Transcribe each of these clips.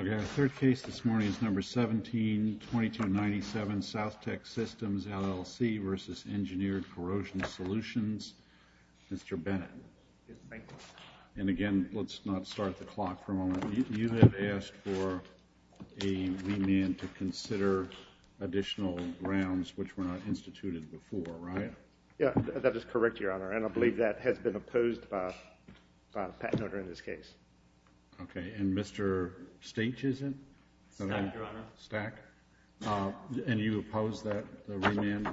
The third case this morning is number 17, 2297, South Tech Systems, LLC, versus Engineered Corrosion Solutions. Mr. Bennett. Yes, thank you. And again, let's not start the clock for a moment. You have asked for a remand to consider additional grounds which were not instituted before, right? Yes, that is correct, Your Honor. And I believe that has been opposed by the patent owner in this case. Okay. And Mr. Stachyson? Stach, Your Honor. Stach. And you oppose that remand?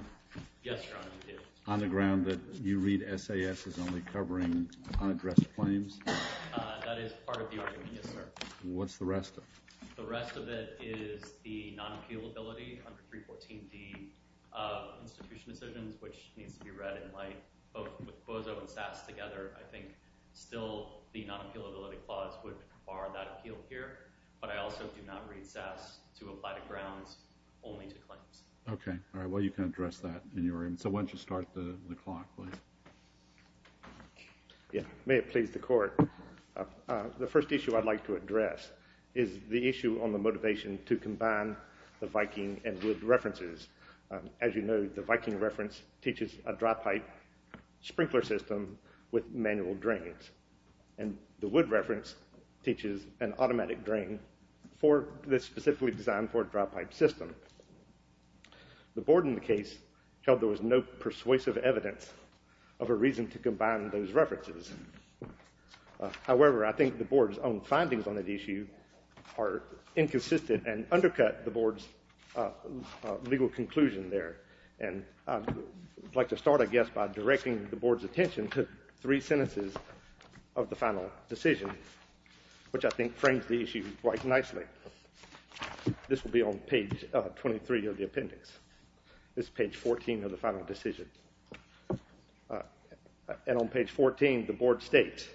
Yes, Your Honor, we do. On the ground that you read SAS as only covering unaddressed claims? That is part of the argument, yes, sir. What's the rest of it? The rest of it is the non-appealability under 314D of institution decisions, which needs to be read in light. Both with BOZO and SAS together, I think still the non-appealability clause would require Yes, Your Honor, we do. On the ground that you read SAS as only covering unaddressed claims? That is part of the argument, yes, sir. But I also do not read SAS to apply the grounds only to claims. Okay. All right. Well, you can address that in your argument. So why don't you start the clock, please? Yes. May it please the Court? The first issue I'd like to address is the issue on the motivation to combine the Viking and Wood references. As you know, the Viking reference teaches a dry pipe sprinkler system with manual drains. And the Wood reference teaches an automatic drain that's specifically designed for a dry pipe system. The Board in the case held there was no persuasive evidence of a reason to combine those references. However, I think the Board's own findings on that issue are inconsistent and undercut the Board's legal conclusion there. And I'd like to start, I guess, by directing the Board's attention to three sentences of the final decision, which I think frames the issue quite nicely. This will be on page 23 of the appendix. This is page 14 of the final decision. And on page 14, the Board states,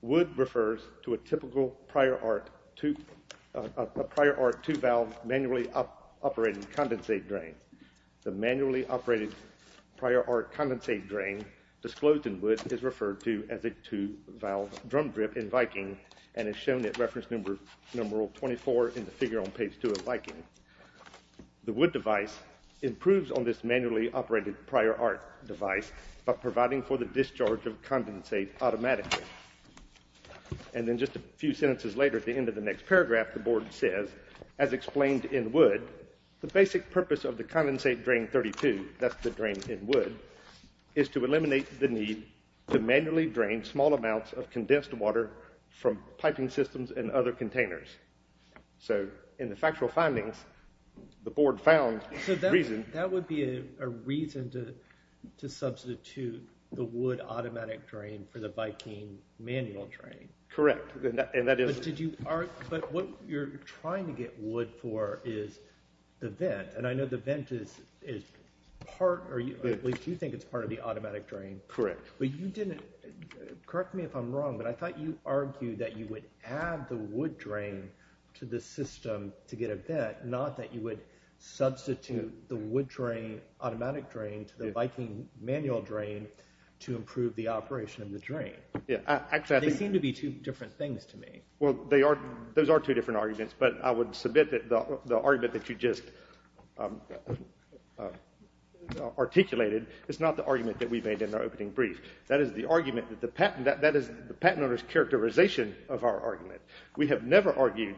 Wood refers to a typical prior arc two valve manually operating condensate drain. The manually operated prior arc condensate drain disclosed in Wood is referred to as a two valve drum drip in Viking and is shown at reference numeral 24 in the figure on page 2 of Viking. The Wood device improves on this manually operated prior arc device by providing for the discharge of condensate automatically. And then just a few sentences later at the end of the next paragraph, the Board says, as explained in Wood, the basic purpose of the condensate drain 32, that's the drain in Wood, is to eliminate the need to manually drain small amounts of condensed water from piping systems and other containers. So in the factual findings, the Board found the reason. That would be a reason to substitute the Wood automatic drain for the Viking manual drain. Correct. But what you're trying to get Wood for is the vent. And I know the vent is part, or at least you think it's part of the automatic drain. Correct. But you didn't, correct me if I'm wrong, but I thought you argued that you would add the Wood drain to the system to get a vent, not that you would substitute the Wood drain, automatic drain, to the Viking manual drain to improve the operation of the drain. Yeah, exactly. They seem to be two different things to me. Well, they are, those are two different arguments, but I would submit that the argument that you just articulated is not the argument that we made in our opening brief. That is the argument that the patent, that is the patent owner's characterization of our argument. We have never argued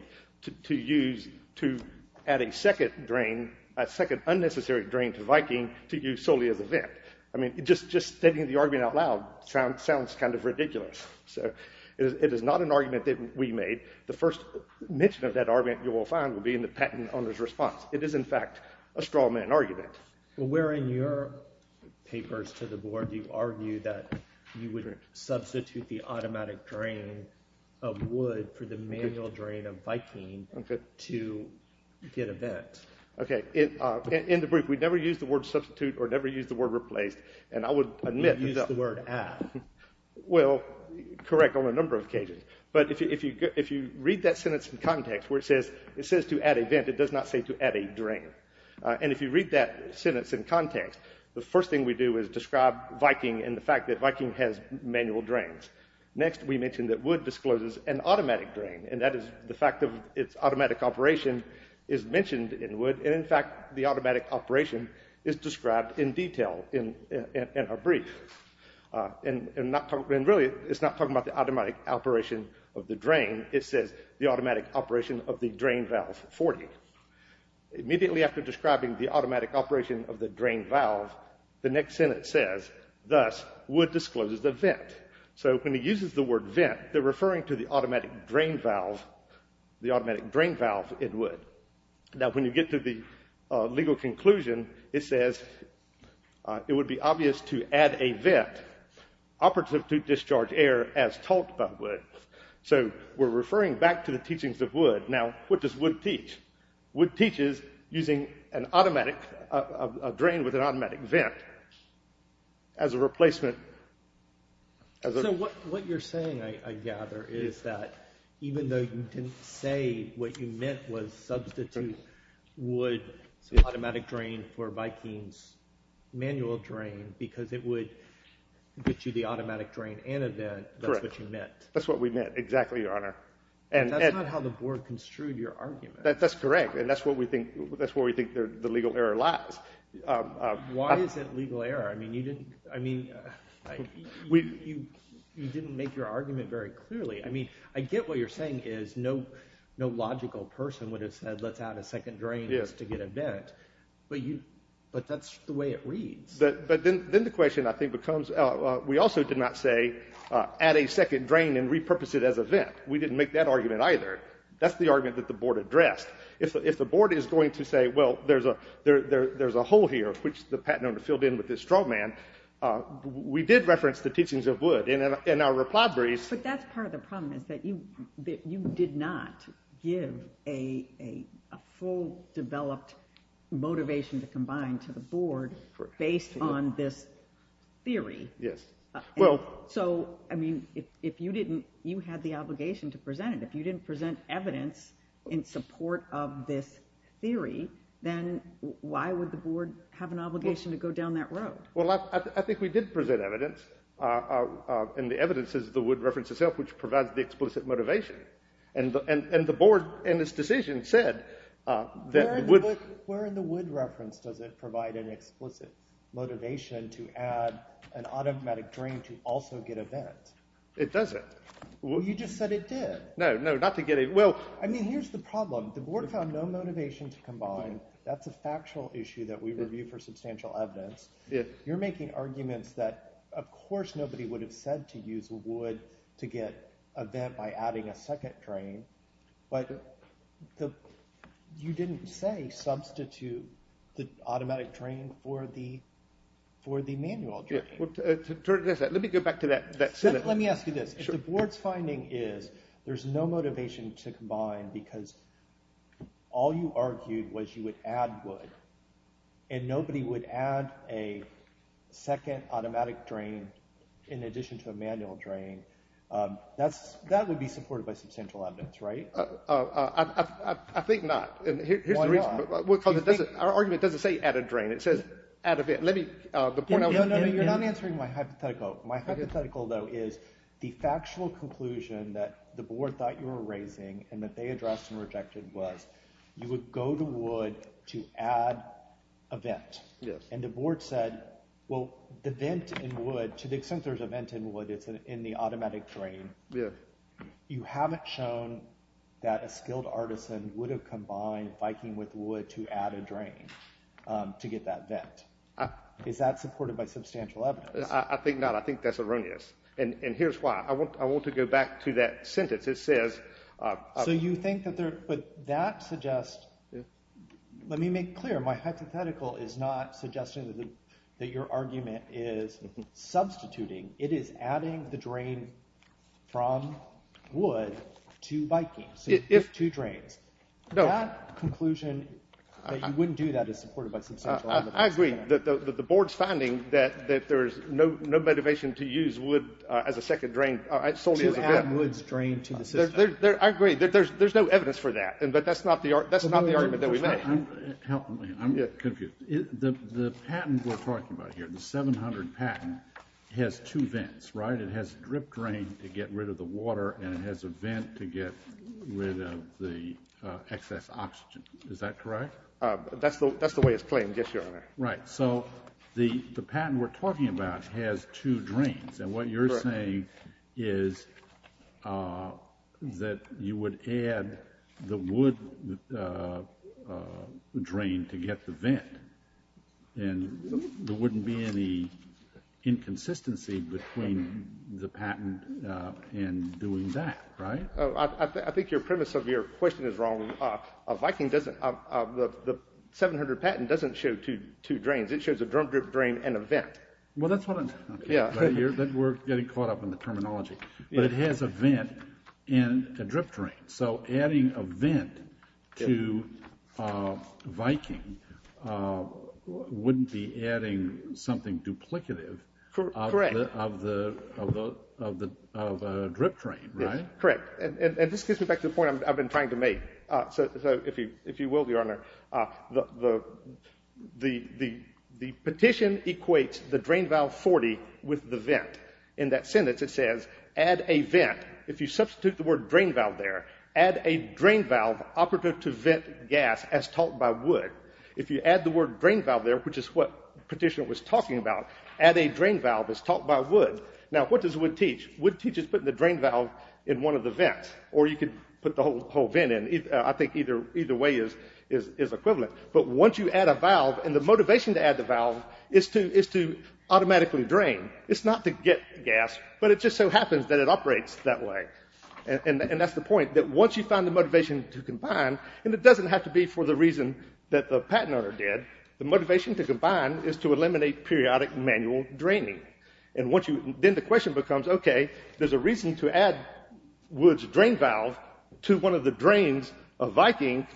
to use, to add a second drain, a second unnecessary drain to Viking to use solely as a vent. I mean, just stating the argument out loud sounds kind of ridiculous. So it is not an argument that we made. The first mention of that argument, you will find, will be in the patent owner's response. It is in fact a straw man argument. Well, where in your papers to the board do you argue that you would substitute the automatic drain of Wood for the manual drain of Viking to get a vent? Yes. Okay. In the brief, we never used the word substitute or never used the word replaced. And I would admit that... You used the word add. Well, correct on a number of occasions. But if you read that sentence in context where it says to add a vent, it does not say to add a drain. And if you read that sentence in context, the first thing we do is describe Viking and the fact that Viking has manual drains. Next, we mentioned that Wood discloses an automatic drain, and that is the fact of its And in fact, the automatic operation is described in detail in our brief. And really, it is not talking about the automatic operation of the drain. It says the automatic operation of the drain valve 40. Immediately after describing the automatic operation of the drain valve, the next sentence says, thus, Wood discloses the vent. So when he uses the word vent, they are referring to the automatic drain valve, the automatic drain valve in Wood. Now, when you get to the legal conclusion, it says, it would be obvious to add a vent operative to discharge air as taught by Wood. So we're referring back to the teachings of Wood. Now, what does Wood teach? Wood teaches using an automatic, a drain with an automatic vent as a replacement. So what you're saying, I gather, is that even though you didn't say what you meant was substitute Wood's automatic drain for Viking's manual drain because it would get you the automatic drain and a vent, that's what you meant? That's what we meant, exactly, Your Honor. That's not how the board construed your argument. That's correct, and that's where we think the legal error lies. Why is it legal error? I mean, you didn't make your argument very clearly. I mean, I get what you're saying is no logical person would have said, let's add a second drain just to get a vent, but that's the way it reads. But then the question, I think, becomes, we also did not say, add a second drain and repurpose it as a vent. We didn't make that argument either. That's the argument that the board addressed. If the board is going to say, well, there's a hole here, which the patent owner filled in with this straw man, we did reference the teachings of Wood, and in our reply briefs But that's part of the problem is that you did not give a full developed motivation to combine to the board based on this theory. So I mean, if you had the obligation to present it, if you didn't present evidence in support of this theory, then why would the board have an obligation to go down that road? Well, I think we did present evidence, and the evidence is the Wood reference itself, which provides the explicit motivation. And the board, in its decision, said that the Wood- Where in the Wood reference does it provide an explicit motivation to add an automatic drain to also get a vent? It doesn't. Well, you just said it did. No, no, not to get a- I mean, here's the problem. The board found no motivation to combine. That's a factual issue that we review for substantial evidence. You're making arguments that, of course, nobody would have said to use Wood to get a vent by adding a second drain, but you didn't say substitute the automatic drain for the manual drain. Let me go back to that. Let me ask you this. If the board's finding is there's no motivation to combine because all you argued was you would add Wood, and nobody would add a second automatic drain in addition to a manual drain, that would be supported by substantial evidence, right? I think not. Here's the reason. Why not? Because our argument doesn't say add a drain. It says add a vent. Let me- No, no, no. You're not answering my hypothetical. My hypothetical, though, is the factual conclusion that the board thought you were raising and that they addressed and rejected was you would go to Wood to add a vent. And the board said, well, the vent in Wood, to the extent there's a vent in Wood, it's in the automatic drain. You haven't shown that a skilled artisan would have combined Viking with Wood to add a drain to get that vent. Is that supported by substantial evidence? I think not. I think that's erroneous. And here's why. I want to go back to that sentence. It says- So you think that there- but that suggests- let me make it clear. My hypothetical is not suggesting that your argument is substituting. It is adding the drain from Wood to Viking, so two drains. That conclusion that you wouldn't do that is supported by substantial evidence. I agree. But the board's finding that there's no motivation to use Wood as a second drain solely as a vent. To add Wood's drain to the system. I agree. There's no evidence for that. But that's not the argument that we make. Help me. I'm confused. The patent we're talking about here, the 700 patent, has two vents, right? It has a drip drain to get rid of the water and it has a vent to get rid of the excess oxygen. Is that correct? That's the way it's claimed, yes, Your Honor. Right. So the patent we're talking about has two drains, and what you're saying is that you would add the Wood drain to get the vent, and there wouldn't be any inconsistency between the patent and doing that, right? I think your premise of your question is wrong. Viking doesn't, the 700 patent doesn't show two drains, it shows a drum drip drain and a vent. Well, that's what I'm... Yeah. We're getting caught up in the terminology, but it has a vent and a drip drain. So adding a vent to Viking wouldn't be adding something duplicative of a drip drain, right? Correct. And this gets me back to the point I've been trying to make. So if you will, Your Honor, the petition equates the drain valve 40 with the vent. In that sentence it says, add a vent. If you substitute the word drain valve there, add a drain valve operative to vent gas as taught by Wood. If you add the word drain valve there, which is what the petition was talking about, add a drain valve as taught by Wood. Now what does Wood teach? Wood teaches putting the drain valve in one of the vents, or you could put the whole vent in. I think either way is equivalent. But once you add a valve, and the motivation to add the valve is to automatically drain. It's not to get gas, but it just so happens that it operates that way. And that's the point, that once you find the motivation to combine, and it doesn't have to be for the reason that the patent owner did, the motivation to combine is to eliminate periodic manual draining. And then the question becomes, okay, there's a reason to add Wood's drain valve to one of the drains of Viking.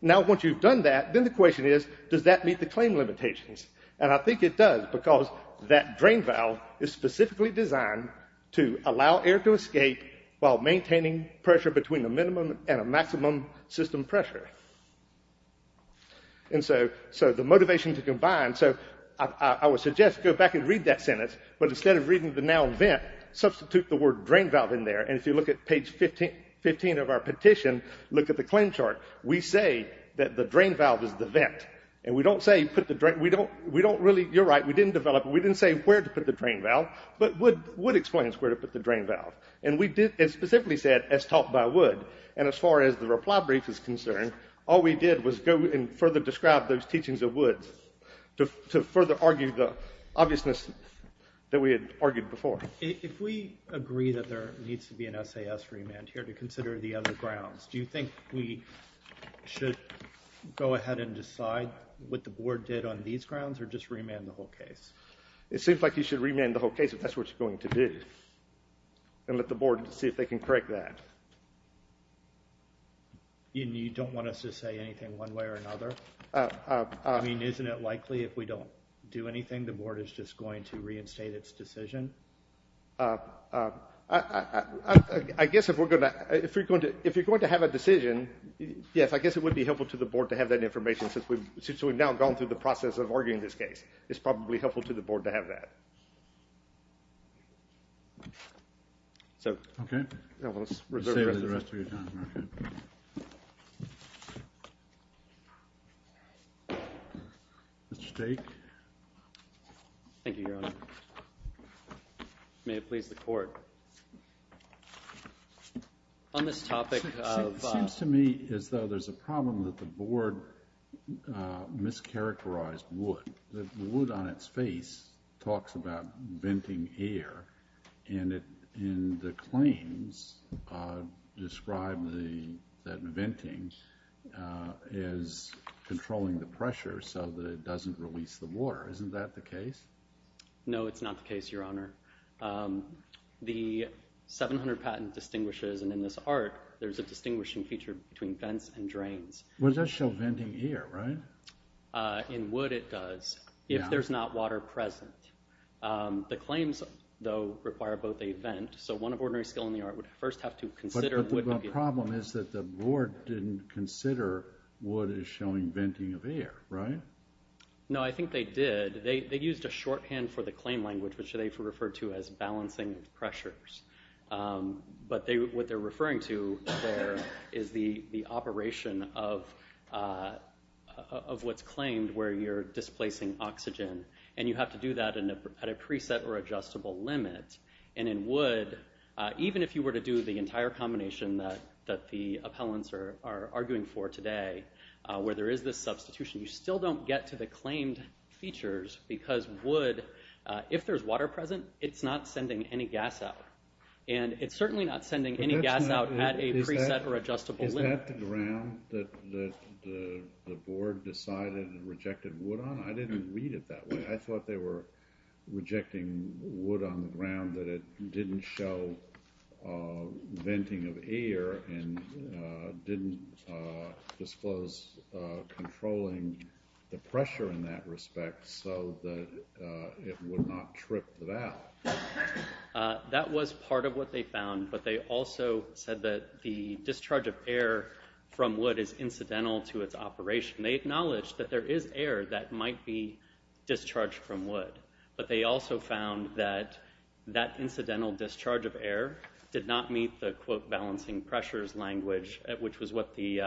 Now once you've done that, then the question is, does that meet the claim limitations? And I think it does, because that drain valve is specifically designed to allow air to escape while maintaining pressure between a minimum and a maximum system pressure. And so the motivation to combine, so I would suggest go back and read that sentence, but instead of reading the noun vent, substitute the word drain valve in there, and if you look at page 15 of our petition, look at the claim chart, we say that the drain valve is the vent. And we don't say put the drain, we don't really, you're right, we didn't develop, we didn't say where to put the drain valve, but Wood explains where to put the drain valve. And we did, it specifically said, as taught by Wood. And as far as the reply brief is concerned, all we did was go and further describe those teachings of Wood to further argue the obviousness that we had argued before. If we agree that there needs to be an SAS remand here to consider the other grounds, do you think we should go ahead and decide what the board did on these grounds, or just remand the whole case? It seems like you should remand the whole case if that's what you're going to do, and let the board see if they can correct that. You don't want us to say anything one way or another? I mean, isn't it likely if we don't do anything, the board is just going to reinstate its decision? I guess if we're going to, if you're going to have a decision, yes, I guess it would be helpful to the board to have that information, since we've now gone through the process of arguing this case. It's probably helpful to the board to have that. So let's reserve the rest of your time, Mark. Mr. Stake? Thank you, Your Honor. May it please the Court. On this topic of... It seems to me as though there's a problem that the board mischaracterized Wood. Wood, on its face, talks about venting air, and the claims describe that venting is controlling the pressure so that it doesn't release the water. Isn't that the case? No, it's not the case, Your Honor. The 700 patent distinguishes, and in this art, there's a distinguishing feature between vents and drains. Well, it does show venting air, right? In Wood, it does, if there's not water present. The claims, though, require both a vent, so one of ordinary skill in the art would first have to consider... But the problem is that the board didn't consider Wood is showing venting of air, right? No, I think they did. They used a shorthand for the claim language, which they referred to as balancing pressures. But what they're referring to there is the operation of what's claimed where you're displacing oxygen, and you have to do that at a preset or adjustable limit. And in Wood, even if you were to do the entire combination that the appellants are arguing for today, where there is this substitution, you still don't get to the claimed features because Wood, if there's water present, it's not sending any gas out. And it's certainly not sending any gas out at a preset or adjustable limit. Is that the ground that the board decided and rejected Wood on? I didn't read it that way. I thought they were rejecting Wood on the ground, that it didn't show venting of air and didn't disclose controlling the pressure in that respect so that it would not trip the valve. That was part of what they found, but they also said that the discharge of air from Wood is incidental to its operation. They acknowledged that there is air that might be discharged from Wood, but they also found that that incidental discharge of air did not meet the, quote, balancing pressures language, which was what the,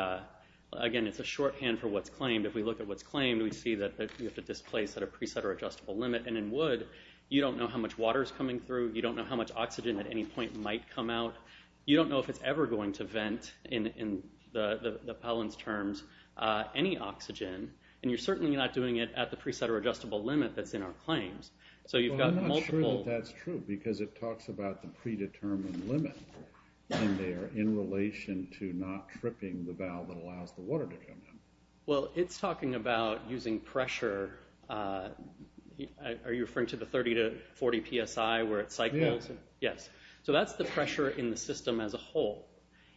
again, it's a shorthand for what's claimed. If we look at what's claimed, we see that you have to displace at a preset or adjustable limit. And in Wood, you don't know how much water is coming through. You don't know how much oxygen at any point might come out. You don't know if it's ever going to vent in the appellant's terms. Any oxygen. And you're certainly not doing it at the preset or adjustable limit that's in our claims. So you've got multiple... Well, I'm not sure that that's true because it talks about the predetermined limit in there in relation to not tripping the valve that allows the water to come in. Well, it's talking about using pressure. Are you referring to the 30 to 40 PSI where it cycles? Yes. Yes. So that's the pressure in the system as a whole.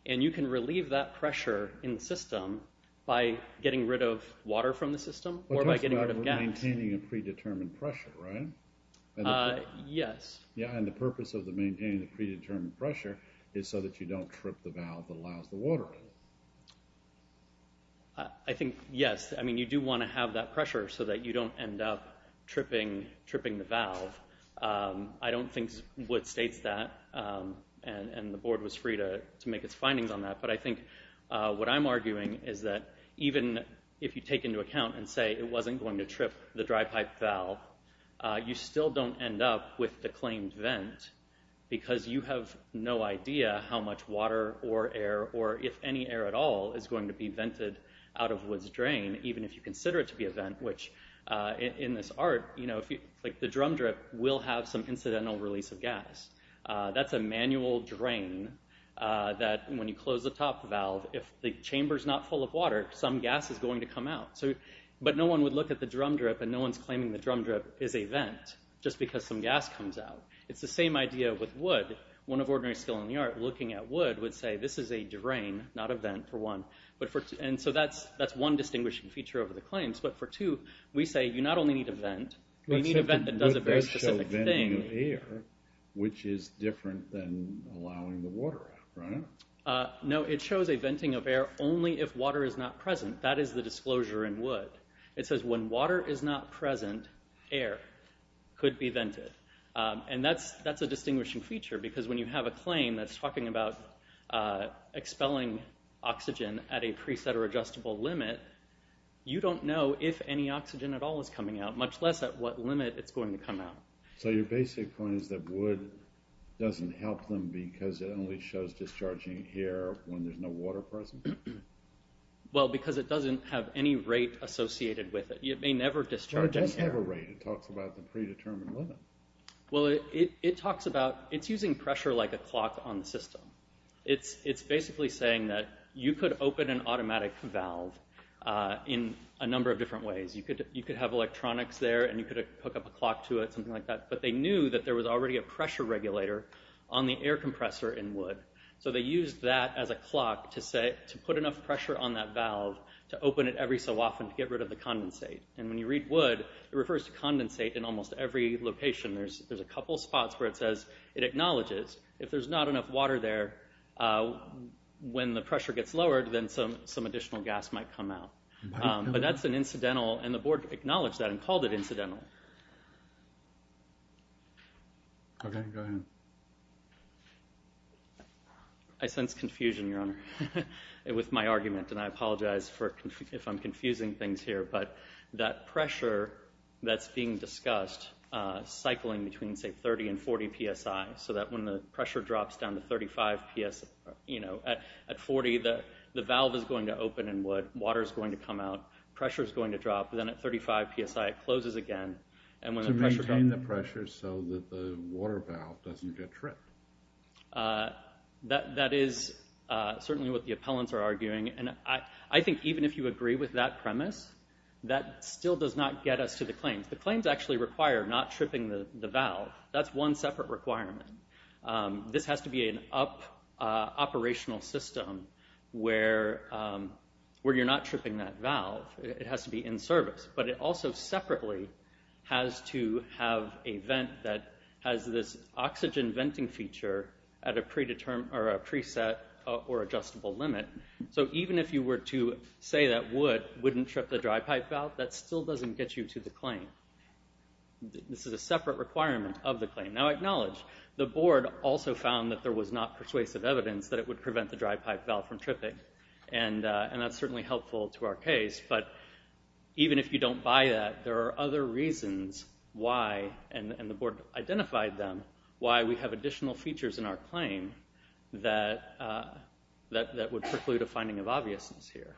And you can relieve that pressure in the system by getting rid of water from the system or by getting rid of gas. But it talks about maintaining a predetermined pressure, right? Yes. Yeah, and the purpose of maintaining the predetermined pressure is so that you don't trip the valve that allows the water in. I think, yes. I mean, you do want to have that pressure so that you don't end up tripping the valve. I don't think Wood states that, and the board was free to make its findings on that. But I think what I'm arguing is that even if you take into account and say it wasn't going to trip the dry pipe valve, you still don't end up with the claimed vent because you have no idea how much water or air, or if any air at all, is going to be vented out of Wood's drain, even if you consider it to be a vent. Which, in this art, the drum drip will have some incidental release of gas. That's a manual drain that when you close the top valve, if the chamber's not full of water, some gas is going to come out. But no one would look at the drum drip and no one's claiming the drum drip is a vent just because some gas comes out. It's the same idea with Wood. One of Ordinary Skill in the Art looking at Wood would say this is a drain, not a vent, for one. And so that's one distinguishing feature over the claims. But for two, we say you not only need a vent, we need a vent that does a very specific thing. Wood does show venting of air, which is different than allowing the water out, right? No, it shows a venting of air only if water is not present. That is the disclosure in Wood. It says when water is not present, air could be vented. And that's a distinguishing feature because when you have a claim that's talking about expelling oxygen at a preset or adjustable limit, you don't know if any oxygen at all is coming out, much less at what limit it's going to come out. So your basic point is that Wood doesn't help them because it only shows discharging air when there's no water present? Well, because it doesn't have any rate associated with it. It may never discharge air. Well, it does have a rate. It talks about the predetermined limit. Well, it talks about, it's using pressure like a clock on the system. It's basically saying that you could open an automatic valve in a number of different ways. You could have electronics there and you could hook up a clock to it, something like that. But they knew that there was already a pressure regulator on the air compressor in Wood. So they used that as a clock to put enough pressure on that valve to open it every so often to get rid of the condensate. And when you read Wood, it refers to condensate in almost every location. There's a couple spots where it says, it acknowledges. If there's not enough water there, when the pressure gets lowered, then some additional gas might come out. But that's an incidental, and the board acknowledged that and called it incidental. Okay, go ahead. I sense confusion, Your Honor, with my argument. And I apologize if I'm confusing things here. But that pressure that's being discussed cycling between, say, 30 and 40 psi. So that when the pressure drops down to 35 psi, at 40, the valve is going to open in Wood. Water is going to come out. Pressure is going to drop. Then at 35 psi, it closes again. To maintain the pressure so that the water valve doesn't get tripped. That is certainly what the appellants are arguing. And I think even if you agree with that premise, that still does not get us to the claims. The claims actually require not tripping the valve. That's one separate requirement. This has to be an operational system where you're not tripping that valve. It has to be in service. But it also separately has to have a vent that has this oxygen venting feature at a preset or adjustable limit. So even if you were to say that Wood wouldn't trip the dry pipe valve, that still doesn't get you to the claim. This is a separate requirement of the claim. Now acknowledge, the board also found that there was not persuasive evidence that it would prevent the dry pipe valve from tripping. And that's certainly helpful to our case. But even if you don't buy that, there are other reasons why, and the board identified them, why we have additional features in our claim that would preclude a finding of obviousness here.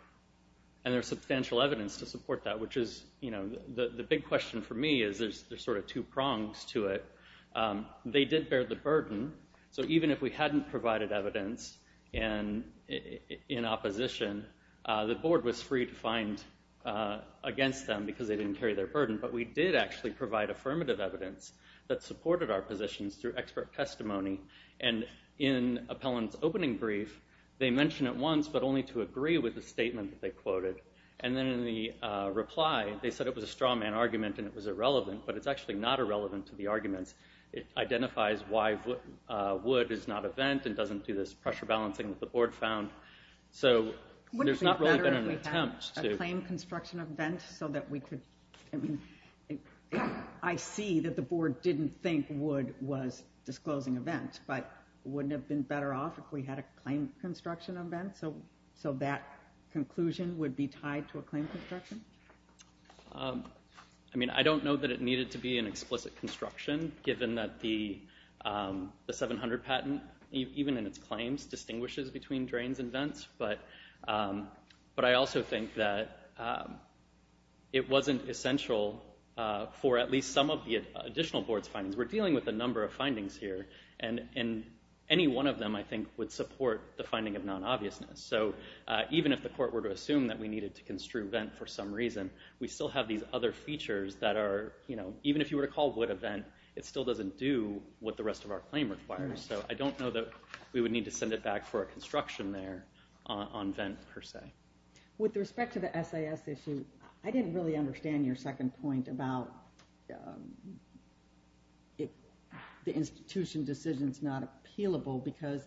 And there's substantial evidence to support that. The big question for me is there's sort of two prongs to it. They did bear the burden. So even if we hadn't provided evidence in opposition, the board was free to find against them because they didn't carry their burden. But we did actually provide affirmative evidence that supported our positions through expert testimony. And in Appellant's opening brief, they mention it once but only to agree with the statement that they quoted. And then in the reply, they said it was a straw man argument and it was irrelevant. But it's actually not irrelevant to the arguments. It identifies why wood is not a vent and doesn't do this pressure balancing that the board found. So there's not really been an attempt to... Wouldn't it be better if we had a claim construction event so that we could... I mean, I see that the board didn't think wood was disclosing a vent, but wouldn't it have been better off if we had a claim construction event? So that conclusion would be tied to a claim construction? I mean, I don't know that it needed to be an explicit construction given that the 700 patent, even in its claims, distinguishes between drains and vents. But I also think that it wasn't essential for at least some of the additional board's findings. We're dealing with a number of findings here. And any one of them, I think, would support the finding of non-obviousness. So even if the court were to assume that we needed to construe vent for some reason, we still have these other features that are... Even if you were to call wood a vent, it still doesn't do what the rest of our claim requires. So I don't know that we would need to send it back for a construction there on vent per se. With respect to the SAS issue, I didn't really understand your second point about the institution decision's not appealable because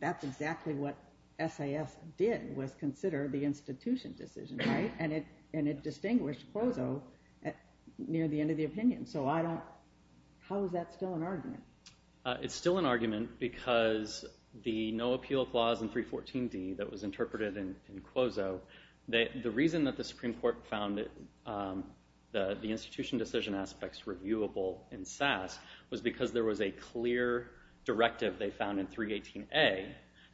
that's exactly what SAS did was consider the institution decision, right? And it distinguished Quozo near the end of the opinion. So how is that still an argument? It's still an argument because the no appeal clause in 314D that was interpreted in Quozo, the reason that the Supreme Court found the institution decision aspects reviewable in SAS was because there was a clear directive they found in 318A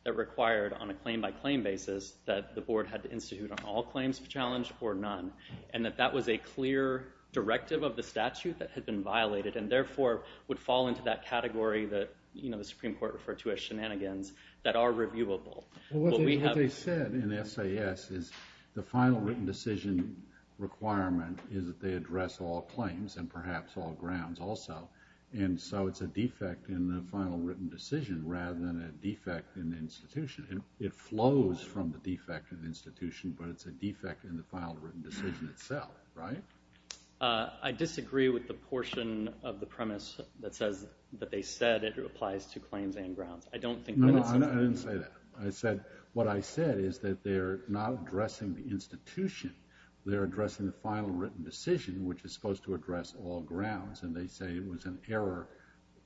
that required on a claim-by-claim basis that the board had to institute on all claims of challenge or none. And that that was a clear directive of the statute that had been violated and therefore would fall into that category that the Supreme Court referred to as shenanigans that are reviewable. What they said in SAS is the final written decision requirement is that they address all claims and perhaps all grounds also. And so it's a defect in the final written decision rather than a defect in the institution. It flows from the defect in the institution, but it's a defect in the final written decision itself, right? I disagree with the portion of the premise that says that they said it applies to claims and grounds. I didn't say that. What I said is that they're not addressing the institution. They're addressing the final written decision, which is supposed to address all grounds, and they say it was an error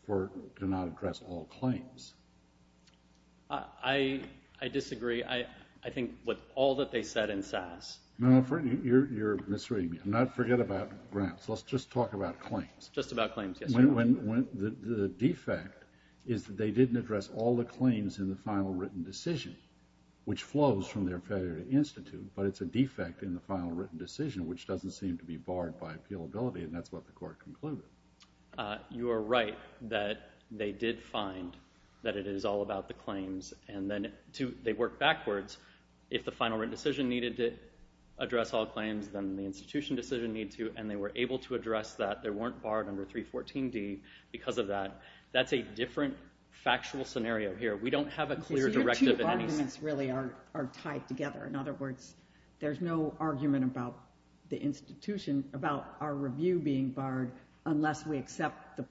to not address all claims. I disagree. I think with all that they said in SAS... You're misreading me. Forget about grounds. Let's just talk about claims. Just about claims, yes. The defect is that they didn't address all the claims in the final written decision, which flows from their federated institute, but it's a defect in the final written decision, which doesn't seem to be barred by appealability, and that's what the Court concluded. You are right that they did find that it is all about the claims, and then they worked backwards. If the final written decision needed to address all claims, then the institution decision needed to, and they were able to address that. They weren't barred under 314D because of that. That's a different factual scenario here. We don't have a clear directive in any sense. Your two arguments really are tied together. In other words, there's no argument about the institution, about our review being barred, unless we accept the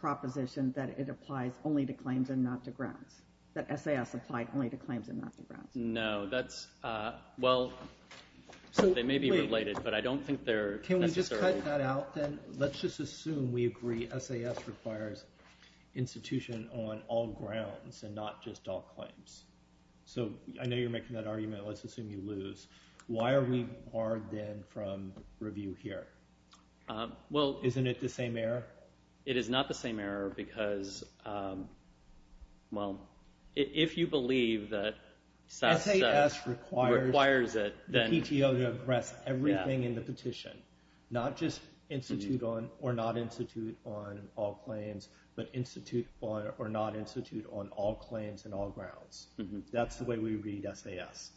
proposition that it applies only to claims and not to grounds, that SAS applied only to claims and not to grounds. No, that's... Well, they may be related, but I don't think they're necessarily... Let's just assume we agree SAS requires institution on all grounds and not just all claims. So I know you're making that argument. Let's assume you lose. Why are we barred then from review here? Well... Isn't it the same error? It is not the same error because, well, if you believe that SAS requires it, then... Or not institute on all claims, but institute or not institute on all claims and all grounds. That's the way we read SAS.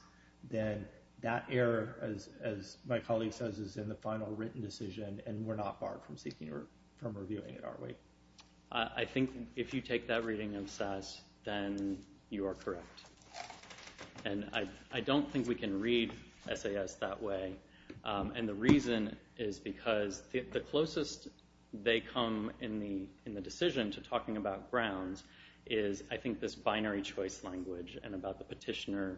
Then that error, as my colleague says, is in the final written decision, and we're not barred from reviewing it, are we? I think if you take that reading of SAS, then you are correct. And I don't think we can read SAS that way. And the reason is because the closest they come in the decision to talking about grounds is, I think, this binary choice language and about the petitioner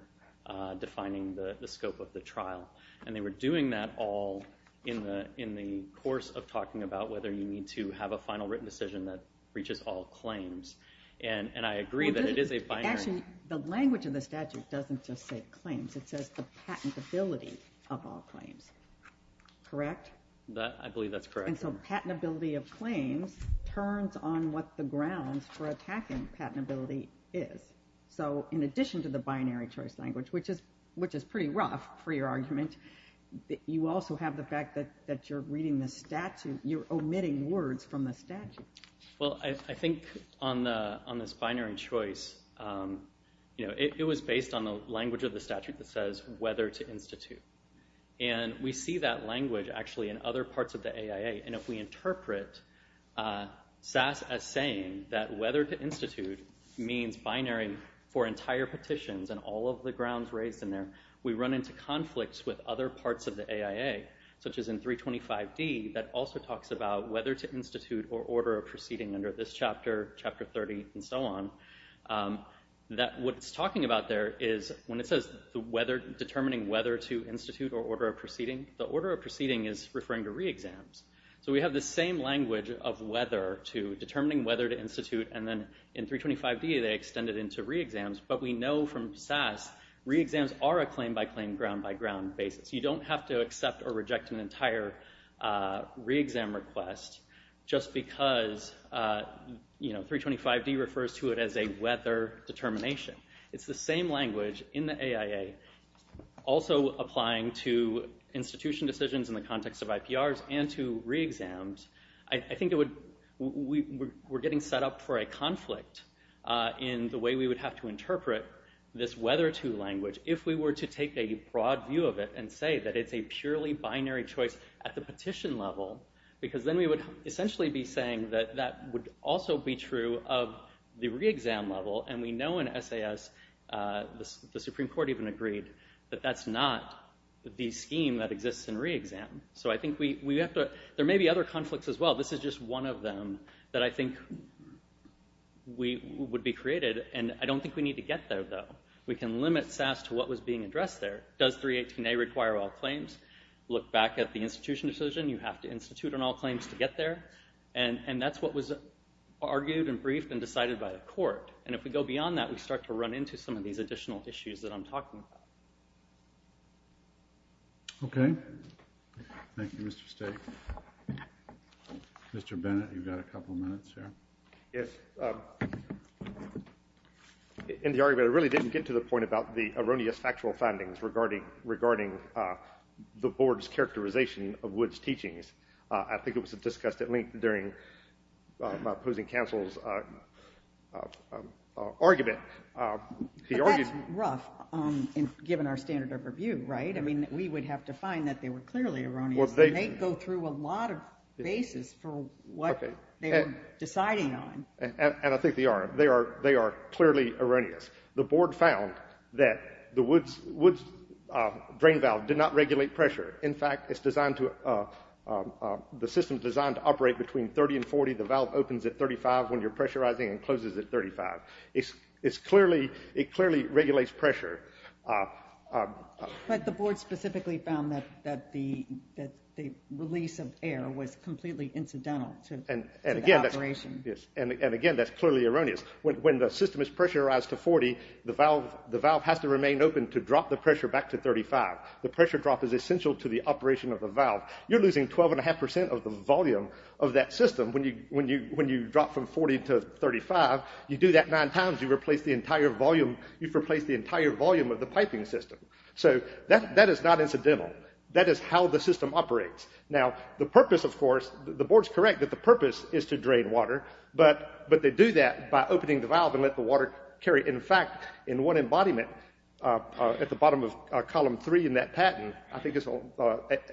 defining the scope of the trial. And they were doing that all in the course of talking about whether you need to have a final written decision that reaches all claims. And I agree that it is a binary... Actually, the language of the statute doesn't just say claims. It says the patentability of all claims. Correct? I believe that's correct. And so patentability of claims turns on what the grounds for attacking patentability is. So in addition to the binary choice language, which is pretty rough for your argument, you also have the fact that you're reading the statute, you're omitting words from the statute. Well, I think on this binary choice, it was based on the language of the statute that says whether to institute. And we see that language actually in other parts of the AIA. And if we interpret SAS as saying that whether to institute means binary for entire petitions and all of the grounds raised in there, we run into conflicts with other parts of the AIA, such as in 325D that also talks about whether to institute or order a proceeding under this chapter, chapter 30, and so on. What it's talking about there is when it says determining whether to institute or order a proceeding, the order of proceeding is referring to re-exams. So we have the same language of determining whether to institute. And then in 325D, they extend it into re-exams. But we know from SAS, re-exams are a claim-by-claim, ground-by-ground basis. You don't have to accept or reject an entire re-exam request just because 325D refers to it as a weather determination. It's the same language in the AIA also applying to institution decisions in the context of IPRs and to re-exams. I think we're getting set up for a conflict in the way we would have to interpret this whether to language if we were to take a broad view of it and say that it's a purely binary choice at the petition level. Because then we would essentially be saying that that would also be true of the re-exam level. And we know in SAS, the Supreme Court even agreed, that that's not the scheme that exists in re-exam. So I think we have to – there may be other conflicts as well. This is just one of them that I think would be created. And I don't think we need to get there, though. We can limit SAS to what was being addressed there. Does 318A require all claims? Look back at the institution decision. You have to institute on all claims to get there. And that's what was argued and briefed and decided by the court. And if we go beyond that, we start to run into some of these additional issues that I'm talking about. Okay. Thank you, Mr. Stake. Mr. Bennett, you've got a couple minutes here. Yes. In the argument, I really didn't get to the point about the erroneous factual findings regarding the board's characterization of Wood's teachings. I think it was discussed at length during opposing counsel's argument. But that's rough, given our standard of review, right? I mean we would have to find that they were clearly erroneous. They go through a lot of bases for what they were deciding on. And I think they are. They are clearly erroneous. The board found that the Wood's drain valve did not regulate pressure. In fact, the system is designed to operate between 30 and 40. The valve opens at 35 when you're pressurizing and closes at 35. It clearly regulates pressure. But the board specifically found that the release of air was completely incidental to the operation. And again, that's clearly erroneous. When the system is pressurized to 40, the valve has to remain open to drop the pressure back to 35. The pressure drop is essential to the operation of the valve. You're losing 12.5% of the volume of that system when you drop from 40 to 35. You do that nine times, you've replaced the entire volume of the piping system. So that is not incidental. That is how the system operates. Now the purpose, of course, the board's correct that the purpose is to drain water. But they do that by opening the valve and let the water carry. In fact, in one embodiment at the bottom of column three in that patent, I think it's on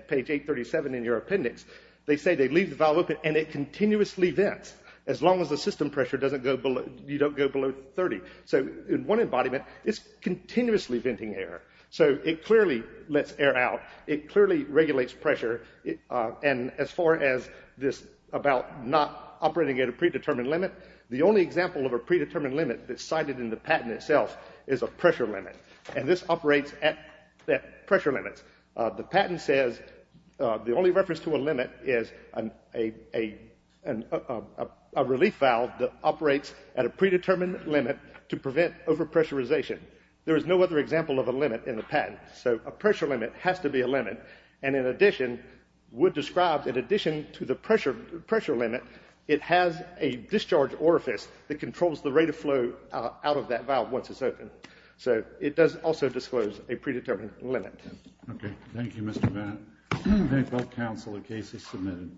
page 837 in your appendix, they say they leave the valve open and it continuously vents as long as the system pressure doesn't go below 30. So in one embodiment, it's continuously venting air. So it clearly lets air out. It clearly regulates pressure. And as far as this about not operating at a predetermined limit, the only example of a predetermined limit that's cited in the patent itself is a pressure limit. And this operates at pressure limits. The patent says the only reference to a limit is a relief valve that operates at a predetermined limit to prevent overpressurization. There is no other example of a limit in the patent. So a pressure limit has to be a limit. And in addition, Wood describes in addition to the pressure limit, it has a discharge orifice that controls the rate of flow out of that valve once it's open. So it does also disclose a predetermined limit. Okay. Thank you, Mr. Bennett. Thank you, counsel. The case is submitted.